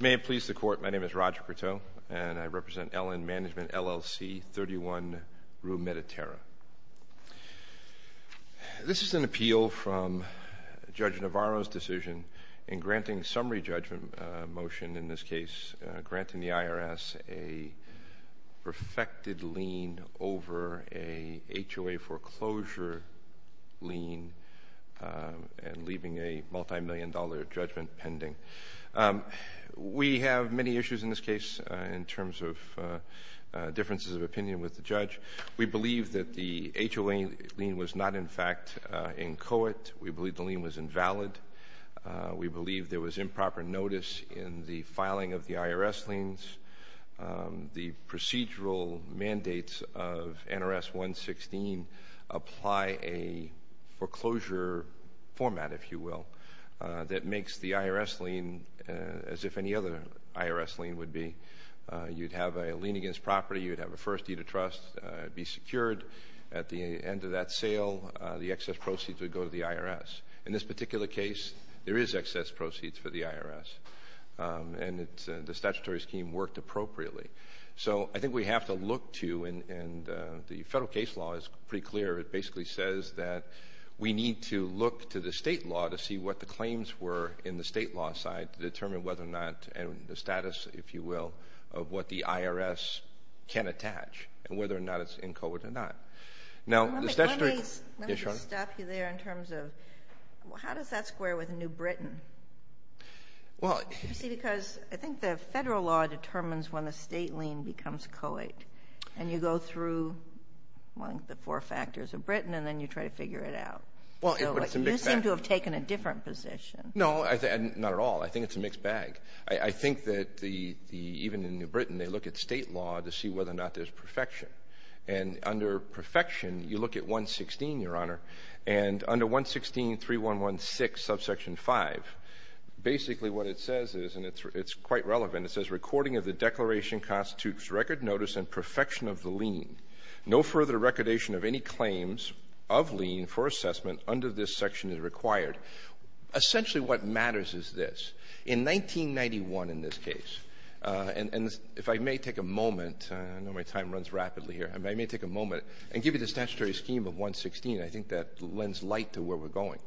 May it please the Court, my name is Roger Perteaux, and I represent LN Management LLC, 31 Rue Mediterranean. This is an appeal from Judge Navarro's decision in granting a summary judgment motion, in this case granting the IRS a perfected lien over a HOA foreclosure lien and leaving a multimillion-dollar judgment pending. We have many issues in this case in terms of differences of opinion with the judge. We believe that the HOA lien was not, in fact, in coit. We believe the lien was invalid. We believe there was improper notice in the filing of the IRS liens. The procedural mandates of NRS 116 apply a foreclosure format, if you will, that makes the IRS lien as if any other IRS lien would be. You would have a lien against property. You would have a first deed of trust be secured. At the end of that sale, the excess proceeds would go to the IRS. In this particular case, there is excess proceeds for the IRS, and the statutory scheme works. So, I think we have to look to, and the federal case law is pretty clear, it basically says that we need to look to the state law to see what the claims were in the state law side to determine whether or not the status, if you will, of what the IRS can attach and whether or not it's in coit or not. Now, the statutory— Let me just stop you there in terms of how does that square with New Britain? You see, because I think the federal law determines when a state lien becomes coit, and you go through the four factors of Britain, and then you try to figure it out. You seem to have taken a different position. No, not at all. I think it's a mixed bag. I think that even in New Britain, they look at state law to see whether or not there's perfection. And under perfection, you look at 116, Your Honor. And under 116.3116, subsection 5, basically what it says is, and it's quite relevant, it says, recording of the declaration constitutes record notice and perfection of the lien. No further recordation of any claims of lien for assessment under this section is required. Essentially what matters is this. In 1991, in this case, and if I may take a moment, I know my time runs rapidly here, I may take a moment and give you the statutory scheme of 116. I think that lends light to where we're going.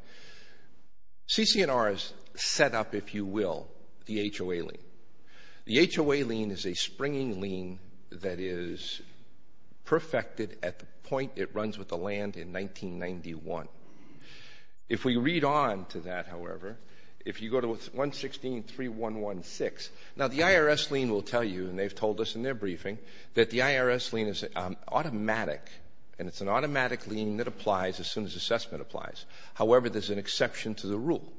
CCNR has set up, if you will, the HOA lien. The HOA lien is a springing lien that is perfected at the point it runs with the land in 1991. If we read on to that, however, if you go to 116.3116, now the IRS lien will tell you, and they've told us in their briefing, that the IRS lien is automatic, and it's an automatic lien that applies as soon as assessment applies. However, there's an exception to the rule.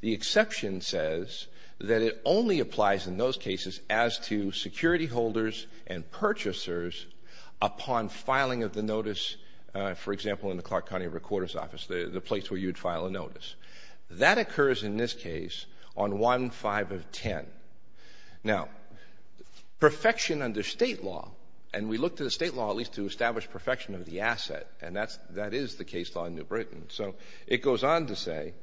The exception says that it only applies in those cases as to security holders and purchasers upon filing of the notice, for example, in the Clark County Recorder's Office, the place where you'd file a notice. That occurs in this case on 1-5-10. Now, perfection under state law, and we look to the state law at least to establish perfection of the asset, and that is the case law in New Britain. So it goes on to say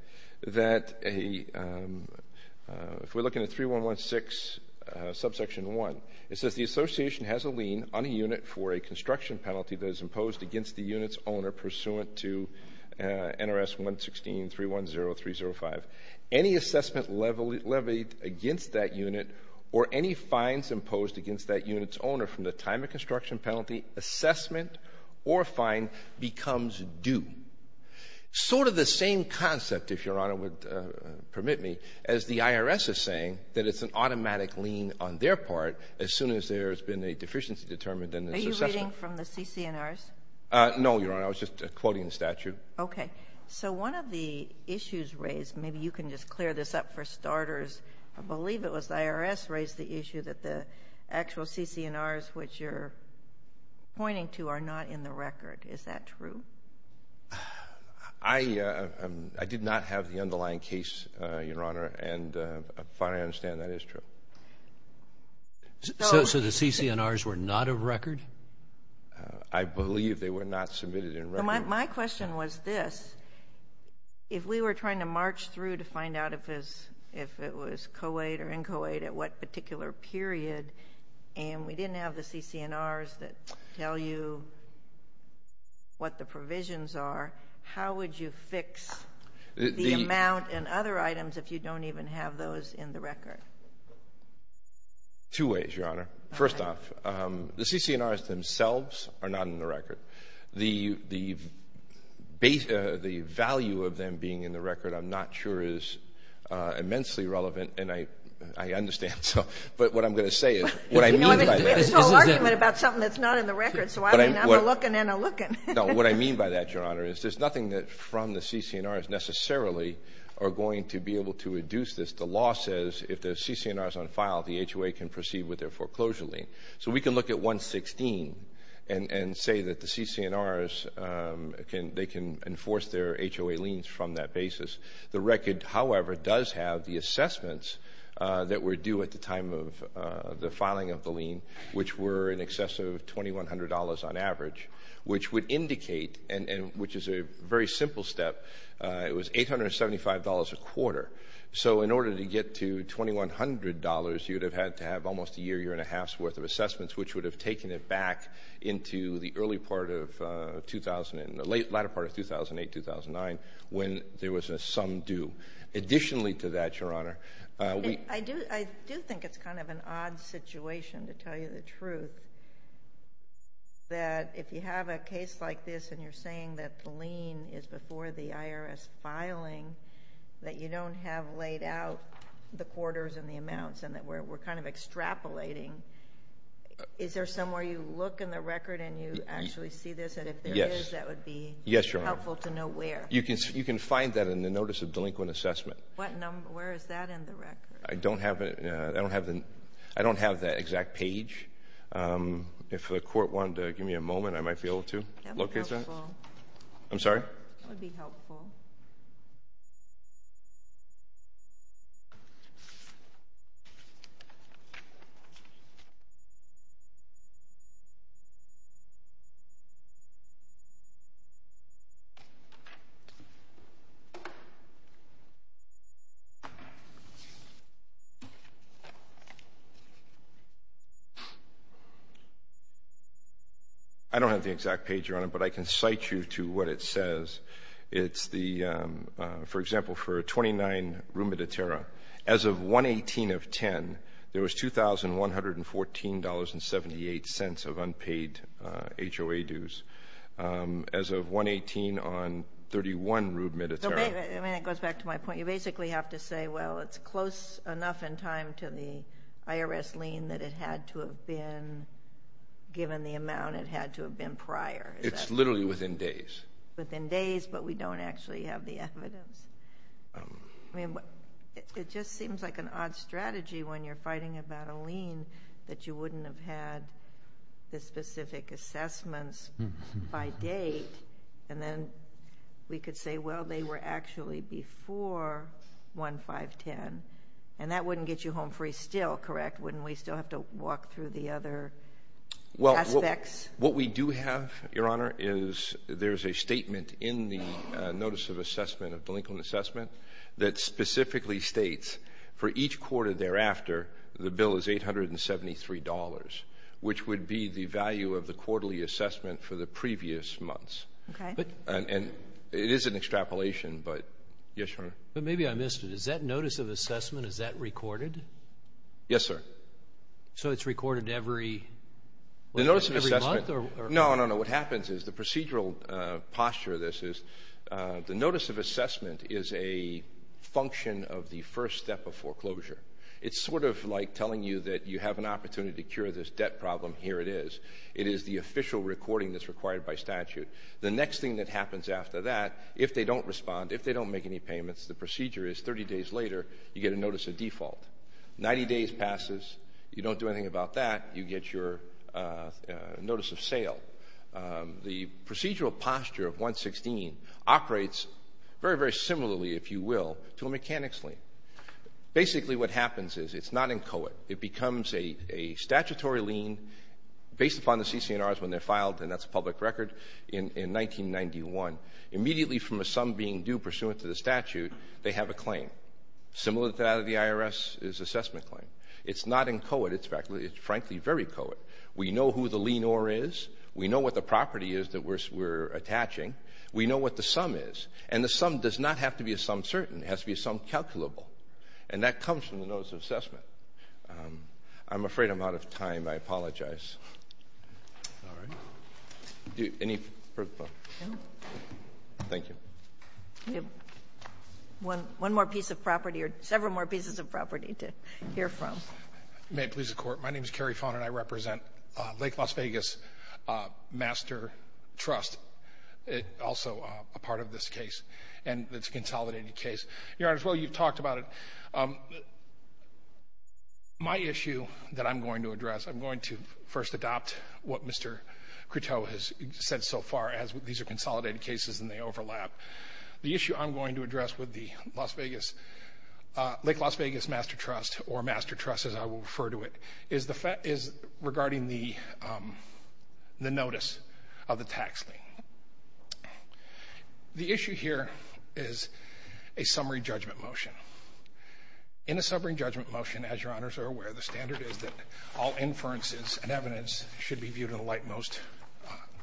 that if we're looking at 3116 subsection 1, it says the association has a lien on a unit for a construction penalty that is imposed against the unit's owner pursuant to NRS 116.310305. Any assessment levied against that unit or any fines imposed against that unit's owner from the time of construction penalty assessment or fine becomes due. Sort of the same concept, if Your Honor would permit me, as the IRS is saying, that it's an automatic lien on their part as soon as there's been a deficiency determined in the assessment. Are you reading from the CCNRs? No, Your Honor. I was just quoting the statute. Okay. So one of the issues raised, maybe you can just clear this up for starters, I believe it was the IRS raised the issue that the actual CCNRs which you're pointing to are not in the record. Is that true? I did not have the underlying case, Your Honor, and as far as I understand, that is true. So the CCNRs were not a record? I believe they were not submitted in record. My question was this. If we were trying to march through to find out if it was co-aid or in-co-aid at what particular period and we didn't have the CCNRs that tell you what the provisions are, how would you fix the amount and other items if you don't even have those in the record? Two ways, Your Honor. First off, the CCNRs themselves are not in the record. The value of them being in the record, I'm not sure, is immensely relevant and I understand. But what I'm going to say is, what I mean by that is... You know, I've been doing this whole argument about something that's not in the record, so I mean, I'm a-looking and a-looking. No, what I mean by that, Your Honor, is there's nothing that from the CCNRs necessarily are going to be able to reduce this. The law says if the CCNR is on file, the HOA can proceed with their foreclosure lien. So we can look at 116 and say that the CCNRs, they can enforce their HOA liens from that basis. The record, however, does have the assessments that were due at the time of the filing of the lien, which were in excess of $2,100 on average, which would indicate, and which is a very simple step, it was $875 a quarter. So in order to get to $2,100, you'd have had to have almost a year, year and a half's worth of assessments, which would have taken it back into the early part of 2000, the latter part of 2008, 2009, when there was a sum due. Additionally to that, Your Honor, we... I do think it's kind of an odd situation, to tell you the truth, that if you have a case like this and you're saying that the lien is before the IRS filing, that you don't have laid out the quarters and the amounts, and that we're kind of extrapolating, is there somewhere you look in the record and you actually see this, and if there is, that would be helpful to know where? Yes, Your Honor. You can find that in the Notice of Delinquent Assessment. What number? Where is that in the record? I don't have it. I don't have the... I don't have that exact page. If the court wanted to give me a moment, I might be able to locate that. That would be helpful. I'm sorry? I don't have the exact page, Your Honor, but I can cite you to what it says. It's the... For example, for a 29 rube mediterra, as of 1-18 of 10, there was $2,114.78 of unpaid HOA dues. As of 1-18 on 31 rube mediterra... Wait a minute. It goes back to my point. You basically have to say, well, it's close enough in time to the IRS lien that it had to have been... Given the amount, it had to have been prior. It's literally within days. Within days, but we don't actually have the evidence. It just seems like an odd strategy when you're fighting about a lien, that you wouldn't have had the specific assessments by date, and then we could say, well, they were actually before 1-510, and that wouldn't get you home free still, correct? Wouldn't we still have to walk through the other aspects? What we do have, Your Honor, is there's a statement in the Notice of Assessment of Delinquent Assessment that specifically states, for each quarter thereafter, the bill is $873, which would be the value of the quarterly assessment for the previous months. And it is an extrapolation, but... Yes, Your Honor. But maybe I missed it. Is that Notice of Assessment, is that recorded? Yes, sir. So it's recorded every... The Notice of Assessment... Every month, or... No, no, no. What happens is, the procedural posture of this is, the Notice of Assessment is a function of the first step of foreclosure. It's sort of like telling you that you have an opportunity to cure this debt problem. Here it is. It is the official recording that's required by statute. The next thing that happens after that, if they don't respond, if they don't make any payments, the procedure is, 30 days later, you get a Notice of Default. 90 days passes, you don't do anything about that, you get your Notice of Sale. The procedural posture of 116 operates very, very similarly, if you will, to a mechanics lien. Basically, what happens is, it's not in COET. It becomes a statutory lien based upon the CCNRs when they're filed, and that's a public record, in 1991. Immediately from a sum being due pursuant to the statute, they have a claim. Similar to that of the IRS, is assessment claim. It's not in COET, it's frankly very COET. We know who the lien or is. We know what the property is that we're attaching. We know what the sum is. And the sum does not have to be a sum certain, it has to be a sum calculable. And that comes from the Notice of Assessment. I'm afraid I'm out of time, I apologize. Alright. Any further questions? No. Thank you. We have one more piece of property, or several more pieces of property to hear from. May it please the Court. My name is Kerry Fauna, and I represent Lake Las Vegas Master Trust, also a part of this case, and it's a consolidated case. Your Honors, while you've talked about it, my issue that I'm going to address, I'm going to first adopt what Mr. Cruteau has said so far, as these are consolidated cases and they overlap. The issue I'm going to address with the Lake Las Vegas Master Trust, or Master Trust as I will refer to it, is regarding the notice of the tax lien. The issue here is a summary judgment motion. In a summary judgment motion, as Your Honors are aware, the standard is that all inferences and evidence should be viewed in the light most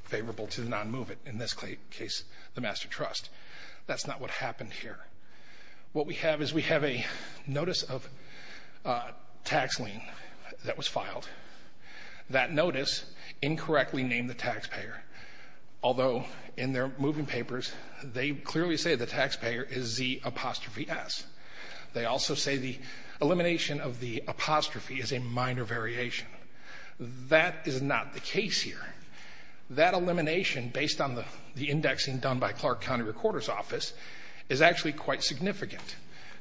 favorable to the non-movement, in this case the Master Trust. That's not what happened here. What we have is we have a notice of tax lien that was filed. That notice incorrectly named the taxpayer, although in their moving papers they clearly say the taxpayer is Z apostrophe S. They also say the elimination of the apostrophe is a minor variation. That is not the case here. That elimination, based on the indexing done by Clark County Recorder's Office, is actually quite significant,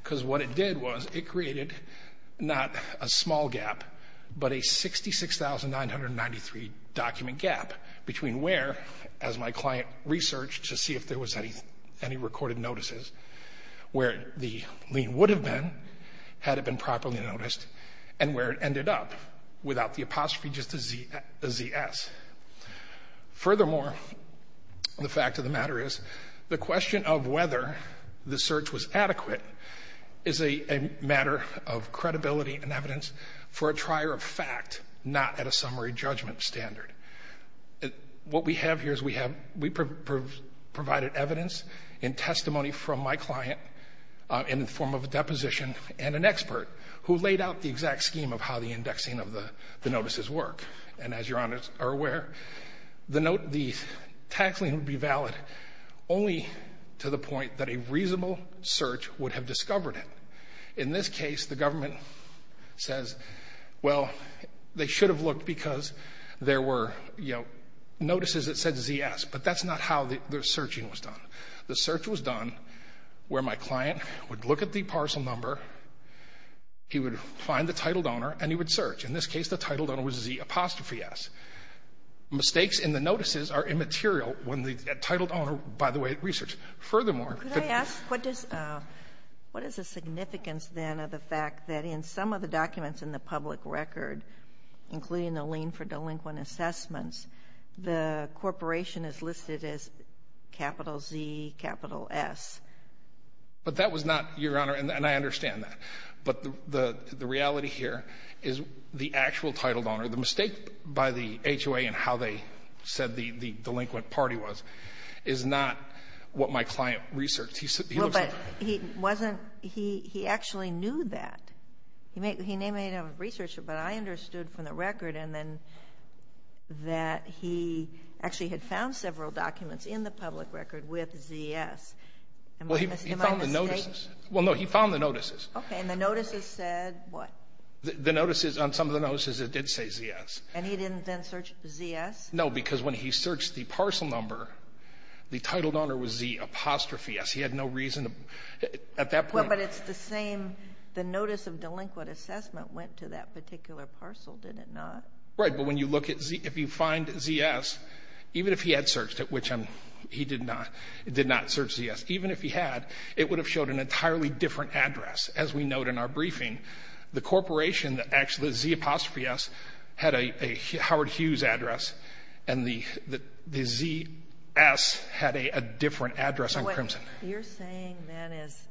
because what it did was it created not a small gap, but a 66,993 document gap between where, as my client researched to see if there was any recorded notices, where the lien would have been, had it been properly noticed, and where it ended up, without the apostrophe just a Z S. Furthermore, the fact of the matter is, the question of whether the search was adequate is a matter of credibility and evidence for a trier of fact, not at a summary judgment standard. What we have here is we provided evidence and testimony from my client in the form of a deposition and an expert who laid out the exact scheme of how the indexing of the notices work. As you are aware, the tax lien would be valid only to the point that a reasonable search would have discovered it. In this case, the government says, well, they should have looked because there were notices that said Z S, but that's not how the searching was done. The search was done where my client would look at the parcel number, he would find the titled owner, and he would search. In this case, the titled owner was Z apostrophe S. Mistakes in the notices are immaterial when the titled owner, by the way, researched. Furthermore, could I ask, what is the significance then of the fact that in some of the documents in the public record, including the lien for delinquent assessments, the corporation is listed as capital Z, capital S? But that was not, Your Honor, and I understand that. But the reality here is the actual titled owner, the mistake by the HOA in how they said the delinquent party was, is not what my client researched. He looks like that. Well, but he wasn't, he actually knew that. He may not be a researcher, but I understood from the record and then that he actually had found several documents in the public record with Z S. Well, he found the notices. Well, no, he found the notices. Okay, and the notices said what? The notices, on some of the notices, it did say Z S. And he didn't then search Z S? No, because when he searched the parcel number, the titled owner was Z apostrophe S. He had no reason to, at that point. Well, but it's the same, the notice of delinquent assessment went to that particular parcel, did it not? Right, but when you look at Z, if you find Z S, even if he had searched it, which he did not, did not search Z S, even if he had, it would have showed an entirely different address. As we note in our briefing, the corporation that actually, Z apostrophe S, had a Howard Hughes address and the Z S had a different address on Crimson. You're saying that is,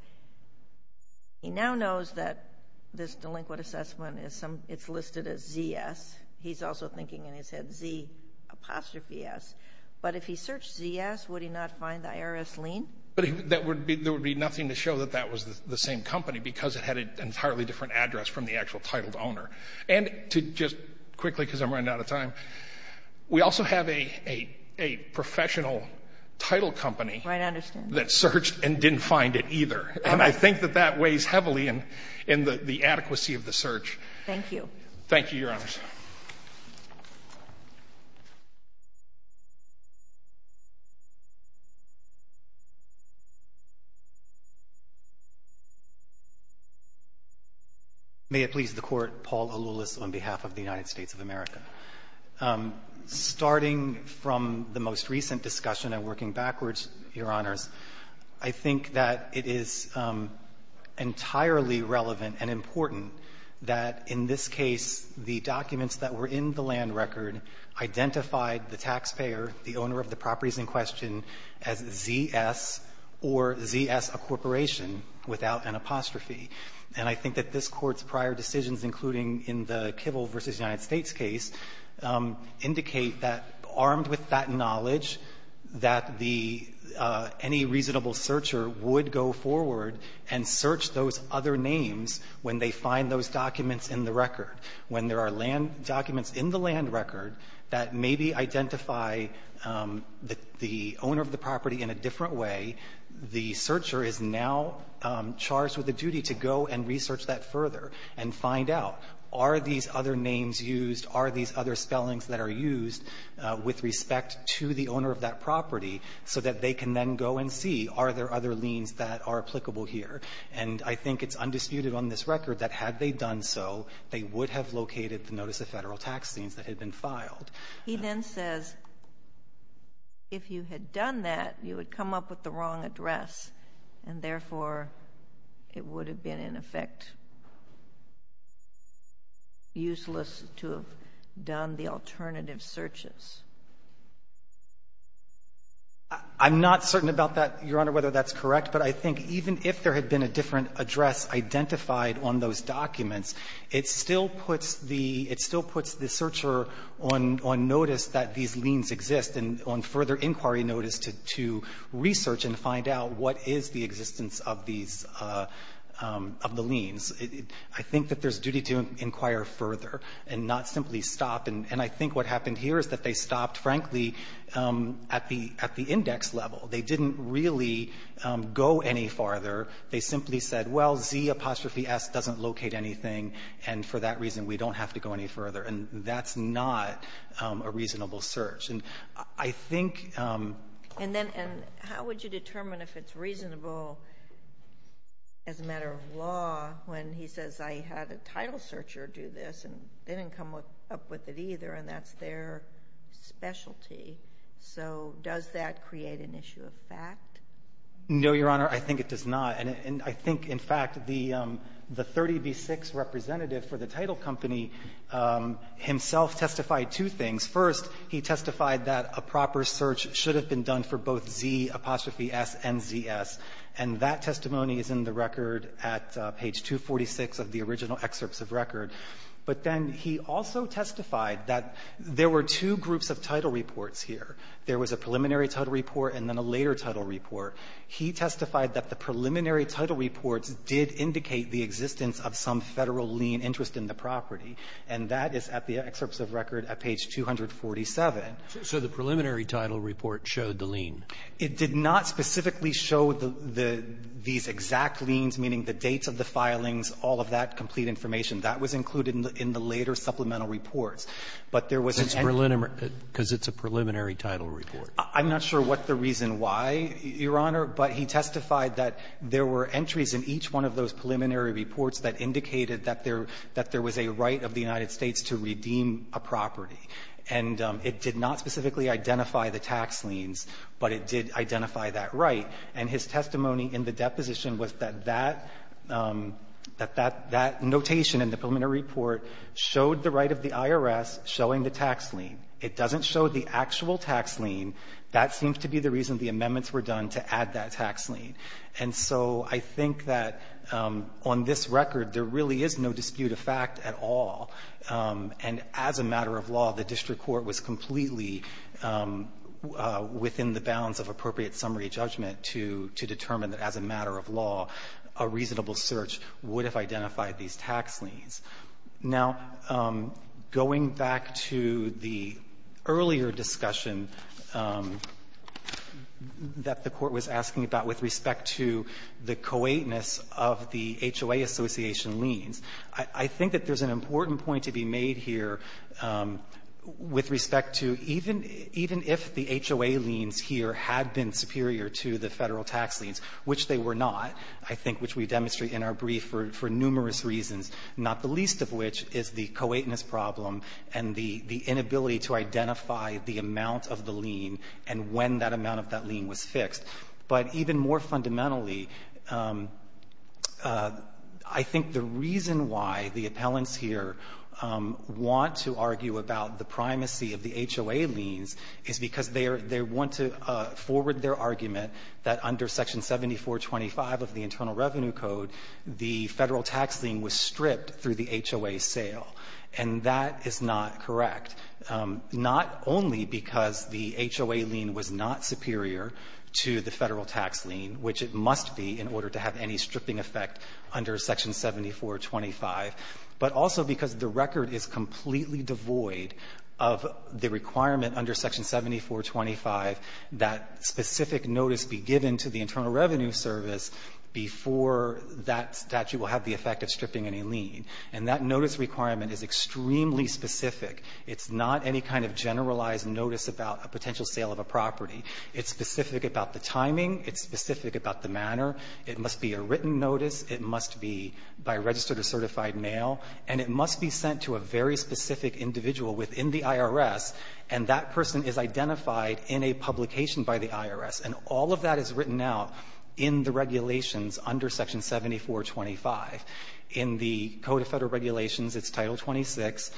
he now knows that this delinquent assessment is some, it's listed as Z S. He's also thinking in his head, Z apostrophe S. But if he searched Z S, would he not find the IRS lien? That would be, there would be nothing to show that that was the same company because it had an entirely different address from the actual titled owner. And to just quickly, because I'm running out of time, we also have a professional title company that searched and didn't find it either. And I think that that weighs heavily in the adequacy of the search. Thank you. Thank you, Your Honors. May it please the Court, Paul Alulis on behalf of the United States of America. Starting from the most recent discussion and working backwards, Your Honors, I think that it is entirely relevant and important that in this case, the documents that were in the land record identified the taxpayer, the owner of the properties in question, as Z S or Z S, a corporation, without an apostrophe. And I think that this Court's prior decisions, including in the Kivel v. United States case, indicate that, armed with that knowledge, that the, any reasonable searcher would go forward and search those other names when they find those documents in the record. When there are land documents in the land record that maybe identify the owner of the property in a different way, the searcher is now charged with the duty to go and research that further and find out, are these other names used, are these other spellings that are used with respect to the owner of that property, so that they can then go and see, are there other liens that are applicable here? And I think it's undisputed on this record that had they done so, they would have located the notice of federal tax liens that had been filed. He then says, if you had done that, you would come up with the wrong address, and therefore, it would have been, in effect, useless to have done the alternative searches. I'm not certain about that, Your Honor, whether that's correct, but I think even if there had been a different address identified on those documents, it still puts the searcher on notice that these liens exist and on further inquiry notice to research and find out what is the existence of these, of the liens. I think that there's a duty to inquire further and not simply stop, and I think what happened here is that they stopped, frankly, at the index level. They didn't really go any farther. They simply said, well, Z apostrophe S doesn't locate anything, and for that reason, we don't have to go any further, and that's not a reasonable search, and I think And then, how would you determine if it's reasonable as a matter of law when he says, I had a title searcher do this, and they didn't come up with it either, and that's their specialty? So does that create an issue of fact? No, Your Honor, I think it does not, and I think, in fact, the 30B6 representative for the title company himself testified two things. First, he testified that a proper search should have been done for both Z apostrophe S and ZS, and that testimony is in the record at page 246 of the original excerpts of record. But then he also testified that there were two groups of title reports here. There was a preliminary title report and then a later title report. He testified that the preliminary title reports did indicate the existence of some Federal lien interest in the property, and that is at the excerpts of record So the preliminary title report showed the lien? It did not specifically show the exact liens, meaning the dates of the filings, all of that complete information. That was included in the later supplemental reports. But there was an entry. Because it's a preliminary title report. I'm not sure what the reason why, Your Honor, but he testified that there were entries in each one of those preliminary reports that indicated that there was a right of the United States to redeem a property. And it did not specifically identify the tax liens, but it did identify that right. And his testimony in the deposition was that that notation in the preliminary report showed the right of the IRS showing the tax lien. It doesn't show the actual tax lien. That seems to be the reason the amendments were done to add that tax lien. And so I think that on this record, there really is no dispute of fact at all. And as a matter of law, the district court was completely within the bounds of appropriate summary judgment to determine that as a matter of law, a reasonable search would have identified these tax liens. Now, going back to the earlier discussion that the Court was asking about with respect to the co-eightness of the HOA association liens, I think that there's an important point to be made here with respect to even if the HOA liens here had been superior to the Federal tax liens, which they were not, I think, which we demonstrate in our brief for numerous reasons, not the least of which is the co-eightness problem and the inability to identify the amount of the lien and when that amount of that lien was fixed. But even more fundamentally, I think the reason why the appellants here want to argue about the primacy of the HOA liens is because they want to forward their argument that under Section 7425 of the Internal Revenue Code, the Federal tax lien was stripped through the HOA sale. And that is not correct. Not only because the HOA lien was not superior to the Federal tax lien, which it must be in order to have any stripping effect under Section 7425, but also because the record is completely devoid of the requirement under Section 7425 that specific notice be given to the Internal Revenue Service before that statute will have the effect of stripping any lien. And that notice requirement is extremely specific. It's not any kind of generalized notice about a potential sale of a property. It's specific about the timing. It's specific about the manner. It must be a written notice. It must be by registered or certified mail. And it must be sent to a very specific individual within the IRS, and that person is identified in a publication by the IRS. And all of that is written out in the regulations under Section 7425. In the Code of Federal Regulations, it's Title 26,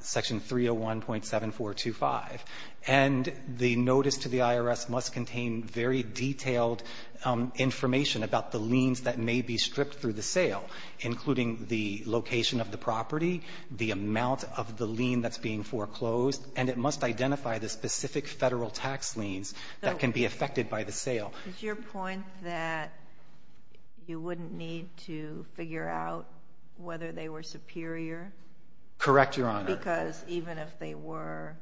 Section 301.7425. And the notice to the IRS must contain very detailed information about the liens that may be stripped through the sale, including the location of the property, the amount of the lien that's being foreclosed. And it must identify the specific Federal tax liens that can be affected by the sale. It's your point that you wouldn't need to figure out whether they were superior? Correct, Your Honor. Because even if they were,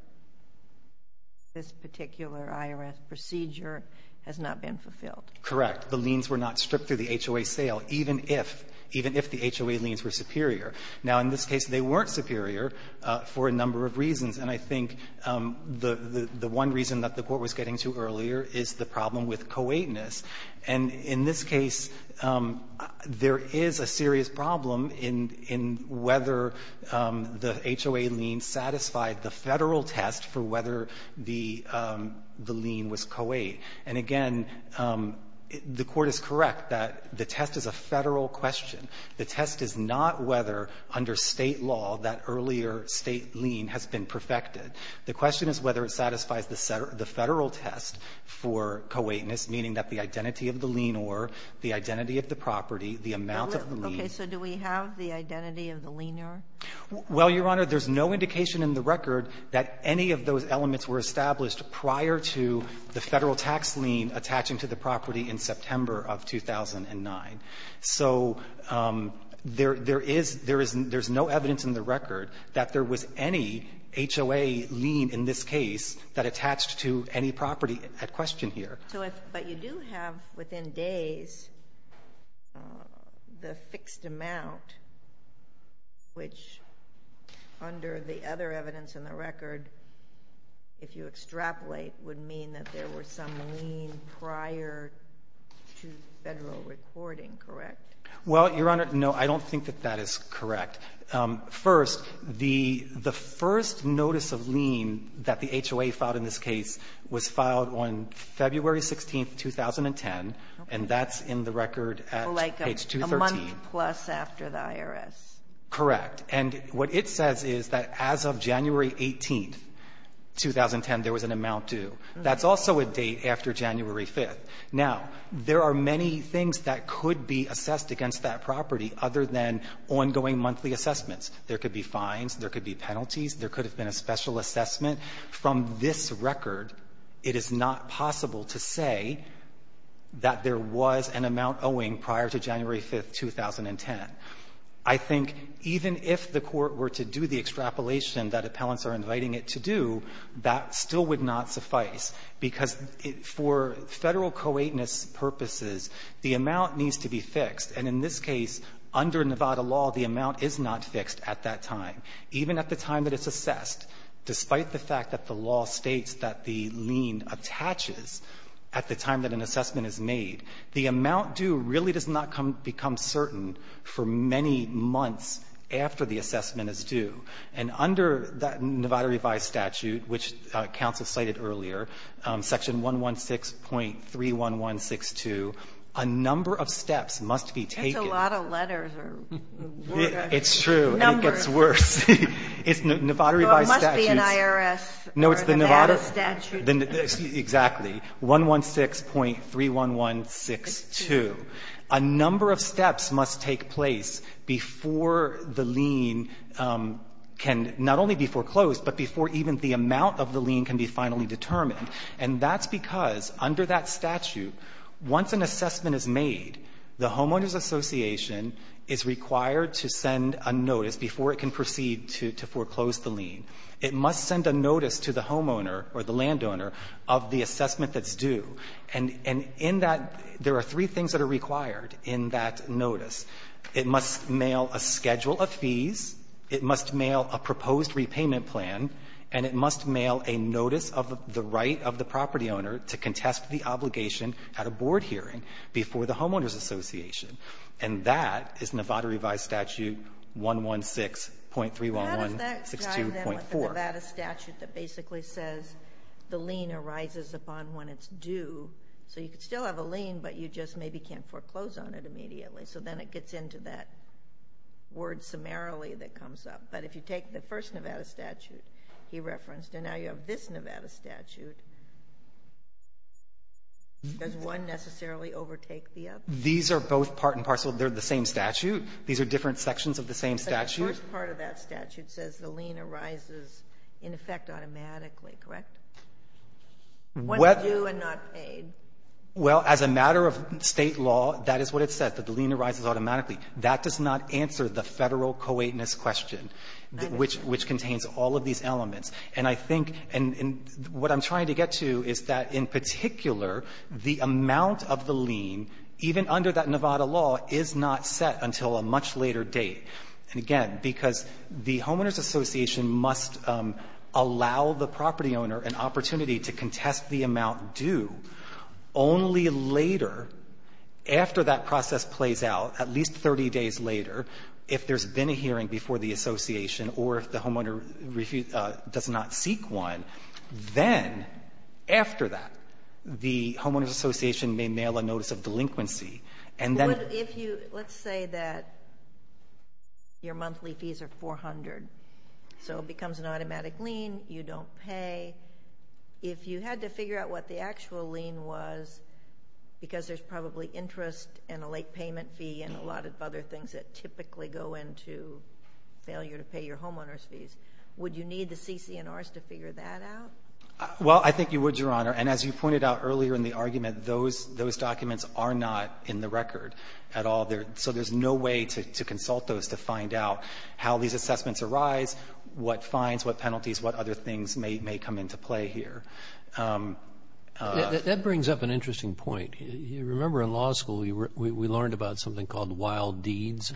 this particular IRS procedure has not been fulfilled? Correct. The liens were not stripped through the HOA sale, even if the HOA liens were superior. Now, in this case, they weren't superior for a number of reasons. And I think the one reason that the Court was getting to earlier is the problem with co-eightness. And in this case, there is a serious problem in whether the HOA lien satisfied the Federal test for whether the lien was co-eight. And again, the Court is correct that the test is a Federal question. The test is not whether, under State law, that earlier State lien has been perfected. The question is whether it satisfies the Federal test for co-eightness, meaning that the identity of the lien or the identity of the property, the amount of the lien. Okay. So do we have the identity of the lien or? Well, Your Honor, there's no indication in the record that any of those elements were established prior to the Federal tax lien attaching to the property in September of 2009. So there is no evidence in the record that there was any HOA lien in this case that attached to any property at question here. But you do have, within days, the fixed amount, which under the other evidence in the record, if you extrapolate, would mean that there were some lien prior to 2010, correct? Well, Your Honor, no, I don't think that that is correct. First, the first notice of lien that the HOA filed in this case was filed on February 16, 2010, and that's in the record at page 213. A month plus after the IRS. Correct. And what it says is that as of January 18, 2010, there was an amount due. That's also a date after January 5th. Now, there are many things that could be assessed against that property other than ongoing monthly assessments. There could be fines. There could be penalties. There could have been a special assessment. From this record, it is not possible to say that there was an amount owing prior to January 5th, 2010. I think even if the Court were to do the extrapolation that appellants are inviting it to do, that still would not suffice, because for Federal co-eightness purposes, the amount needs to be fixed. And in this case, under Nevada law, the amount is not fixed at that time. Even at the time that it's assessed, despite the fact that the law states that the lien attaches at the time that an assessment is made, the amount due really does not become certain for many months after the assessment is due. And under Nevada revised statute, which counsel cited earlier, section 116.31162, a number of steps must be taken. It's a lot of letters or numbers. It's true, and it gets worse. It's Nevada revised statute. It must be an IRS or Nevada statute. No, it's the Nevada, exactly, 116.31162. A number of steps must take place before the lien can not only be foreclosed, but before even the amount of the lien can be finally determined. And that's because under that statute, once an assessment is made, the homeowners association is required to send a notice before it can proceed to foreclose the lien. It must send a notice to the homeowner or the landowner of the assessment that's due. And in that, there are three things that are required in that notice. It must mail a schedule of fees. It must mail a proposed repayment plan. And it must mail a notice of the right of the property owner to contest the obligation at a board hearing before the homeowners association. And that is Nevada revised statute 116.31162.4. There's a Nevada statute that basically says the lien arises upon when it's due. So you could still have a lien, but you just maybe can't foreclose on it immediately. So then it gets into that word summarily that comes up. But if you take the first Nevada statute he referenced, and now you have this Nevada statute, does one necessarily overtake the other? These are both part and parcel. They're the same statute. These are different sections of the same statute. The first part of that statute says the lien arises in effect automatically, correct? When it's due and not paid. Well, as a matter of state law, that is what it says, that the lien arises automatically. That does not answer the federal co-eightness question, which contains all of these elements. And I think, and what I'm trying to get to is that in particular, the amount of the lien, even under that Nevada law, is not set until a much later date. And again, because the homeowners association must allow the property owner an opportunity to contest the amount due only later, after that process plays out, at least 30 days later, if there's been a hearing before the association or if the homeowner does not seek one. Then, after that, the homeowners association may mail a notice of delinquency. But if you, let's say that your monthly fees are 400, so it becomes an automatic lien, you don't pay. If you had to figure out what the actual lien was, because there's probably interest and a late payment fee and a lot of other things that typically go into failure to pay your homeowner's fees, would you need the CC&Rs to figure that out? Well, I think you would, Your Honor. And as you pointed out earlier in the argument, those documents are not in the record at all. So there's no way to consult those to find out how these assessments arise, what fines, what penalties, what other things may come into play here. That brings up an interesting point. You remember in law school, we learned about something called wild deeds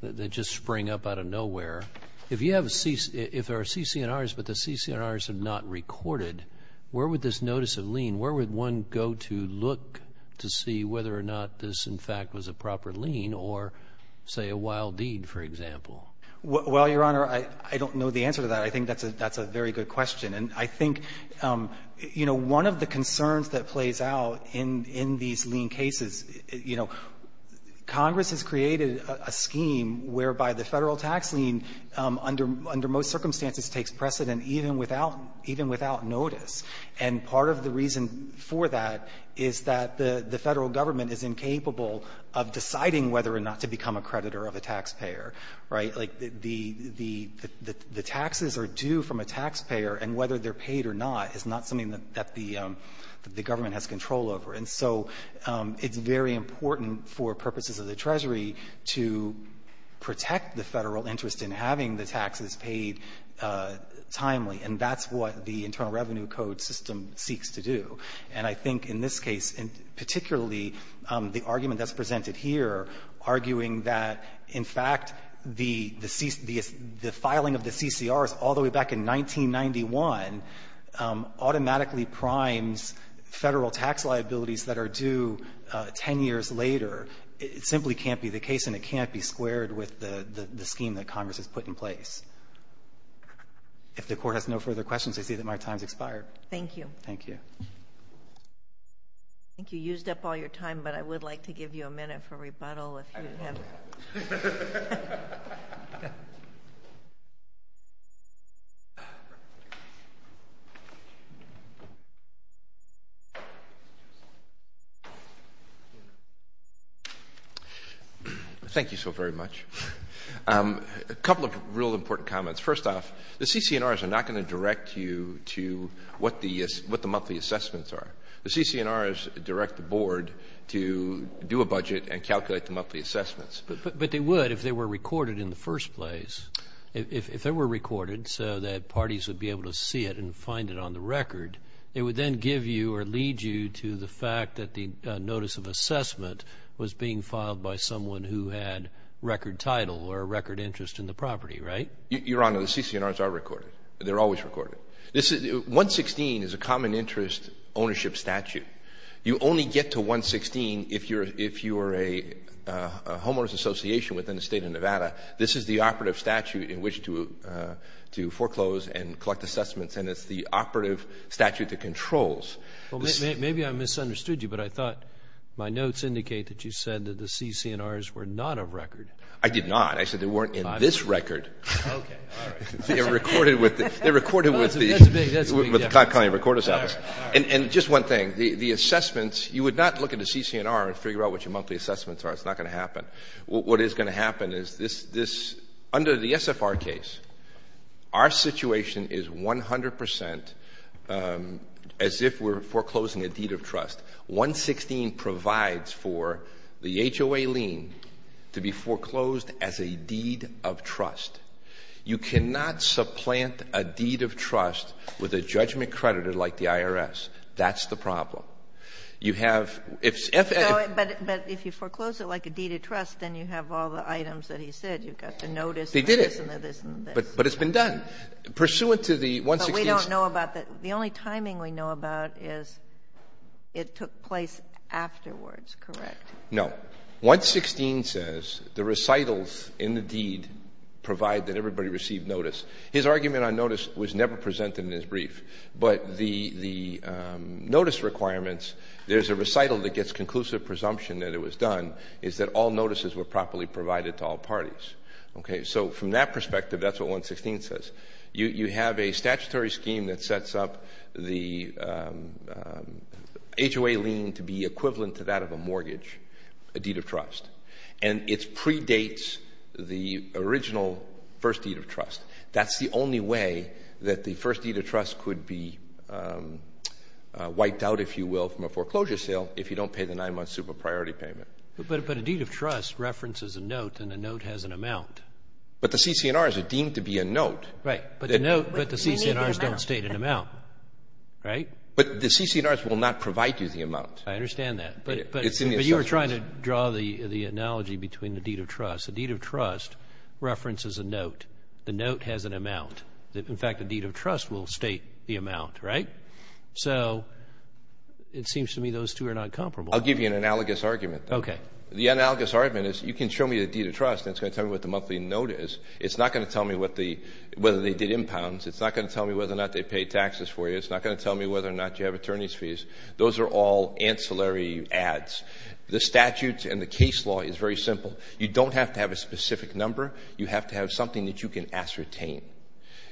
that just spring up out of nowhere. If you have a CC, if there are CC&Rs but the CC&Rs are not recorded, where would this notice of lien, where would one go to look to see whether or not this, in fact, was a proper lien or, say, a wild deed, for example? Well, Your Honor, I don't know the answer to that. I think that's a very good question. And I think, you know, one of the concerns that plays out in these lien cases, you know, under most circumstances takes precedent even without notice. And part of the reason for that is that the Federal Government is incapable of deciding whether or not to become a creditor of a taxpayer, right? Like the taxes are due from a taxpayer, and whether they're paid or not is not something that the Government has control over. And so it's very important for purposes of the Treasury to protect the Federal interest in having the taxes paid timely. And that's what the Internal Revenue Code system seeks to do. And I think in this case, and particularly the argument that's presented here, arguing that, in fact, the filing of the CC&Rs all the way back in 1991 automatically primes Federal tax liabilities that are due 10 years later, simply can't be the case and it can't be squared with the scheme that Congress has put in place. If the Court has no further questions, I see that my time's expired. Thank you. Thank you. I think you used up all your time, but I would like to give you a minute for rebuttal. Thank you so very much. A couple of real important comments. First off, the CC&Rs are not going to direct you to what the monthly assessments are. The CC&Rs direct the Board to do a budget and calculate the monthly assessments. But they would if they were recorded in the first place. If they were recorded so that parties would be able to see it and find it on the record, it would then give you or lead you to the fact that the notice of assessment was being record title or a record interest in the property, right? Your Honor, the CC&Rs are recorded. They're always recorded. 116 is a common interest ownership statute. You only get to 116 if you're a homeowners association within the state of Nevada. This is the operative statute in which to foreclose and collect assessments, and it's the operative statute that controls. Maybe I misunderstood you, but I thought my notes indicate that you said that the I did not. I said they weren't in this record. Okay, all right. They're recorded with the county recorder's office. And just one thing, the assessments, you would not look at the CC&R and figure out what your monthly assessments are. It's not going to happen. What is going to happen is under the SFR case, our situation is 100% as if we're foreclosing a deed of trust. 116 provides for the HOA lien to be foreclosed as a deed of trust. You cannot supplant a deed of trust with a judgment creditor like the IRS. That's the problem. You have, if No, but if you foreclose it like a deed of trust, then you have all the items that he said. You've got the notice and this and this and this. But it's been done. Pursuant to the 116 But we don't know about that. The only timing we know about is it took place afterwards, correct? No. 116 says the recitals in the deed provide that everybody received notice. His argument on notice was never presented in his brief, but the notice requirements, there's a recital that gets conclusive presumption that it was done, is that all notices were properly provided to all parties. Okay, so from that perspective, that's what 116 says. You have a statutory scheme that sets up the HOA lien to be equivalent to that of a mortgage, a deed of trust, and it predates the original first deed of trust. That's the only way that the first deed of trust could be wiped out, if you will, from a foreclosure sale if you don't pay the nine-month super priority payment. But a deed of trust references a note and a note has an amount. Right, but the CC&Rs don't state an amount, right? But the CC&Rs will not provide you the amount. I understand that, but you were trying to draw the analogy between the deed of trust. A deed of trust references a note. The note has an amount. In fact, a deed of trust will state the amount, right? So it seems to me those two are not comparable. I'll give you an analogous argument. Okay. The analogous argument is you can show me a deed of trust and it's going to tell me what the monthly note is. It's not going to tell me whether they did impounds. It's not going to tell me whether or not they paid taxes for you. It's not going to tell me whether or not you have attorney's fees. Those are all ancillary ads. The statutes and the case law is very simple. You don't have to have a specific number. You have to have something that you can ascertain.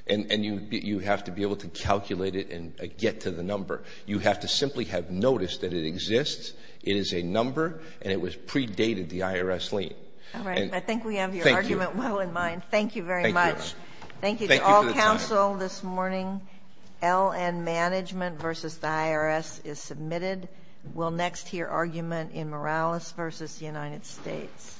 And you have to be able to calculate it and get to the number. You have to simply have noticed that it exists. It is a number and it was predated the IRS lien. All right. I think we have your argument well in mind. Thank you very much. Thank you to all counsel this morning. L and management versus the IRS is submitted. We'll next hear argument in Morales versus the United States.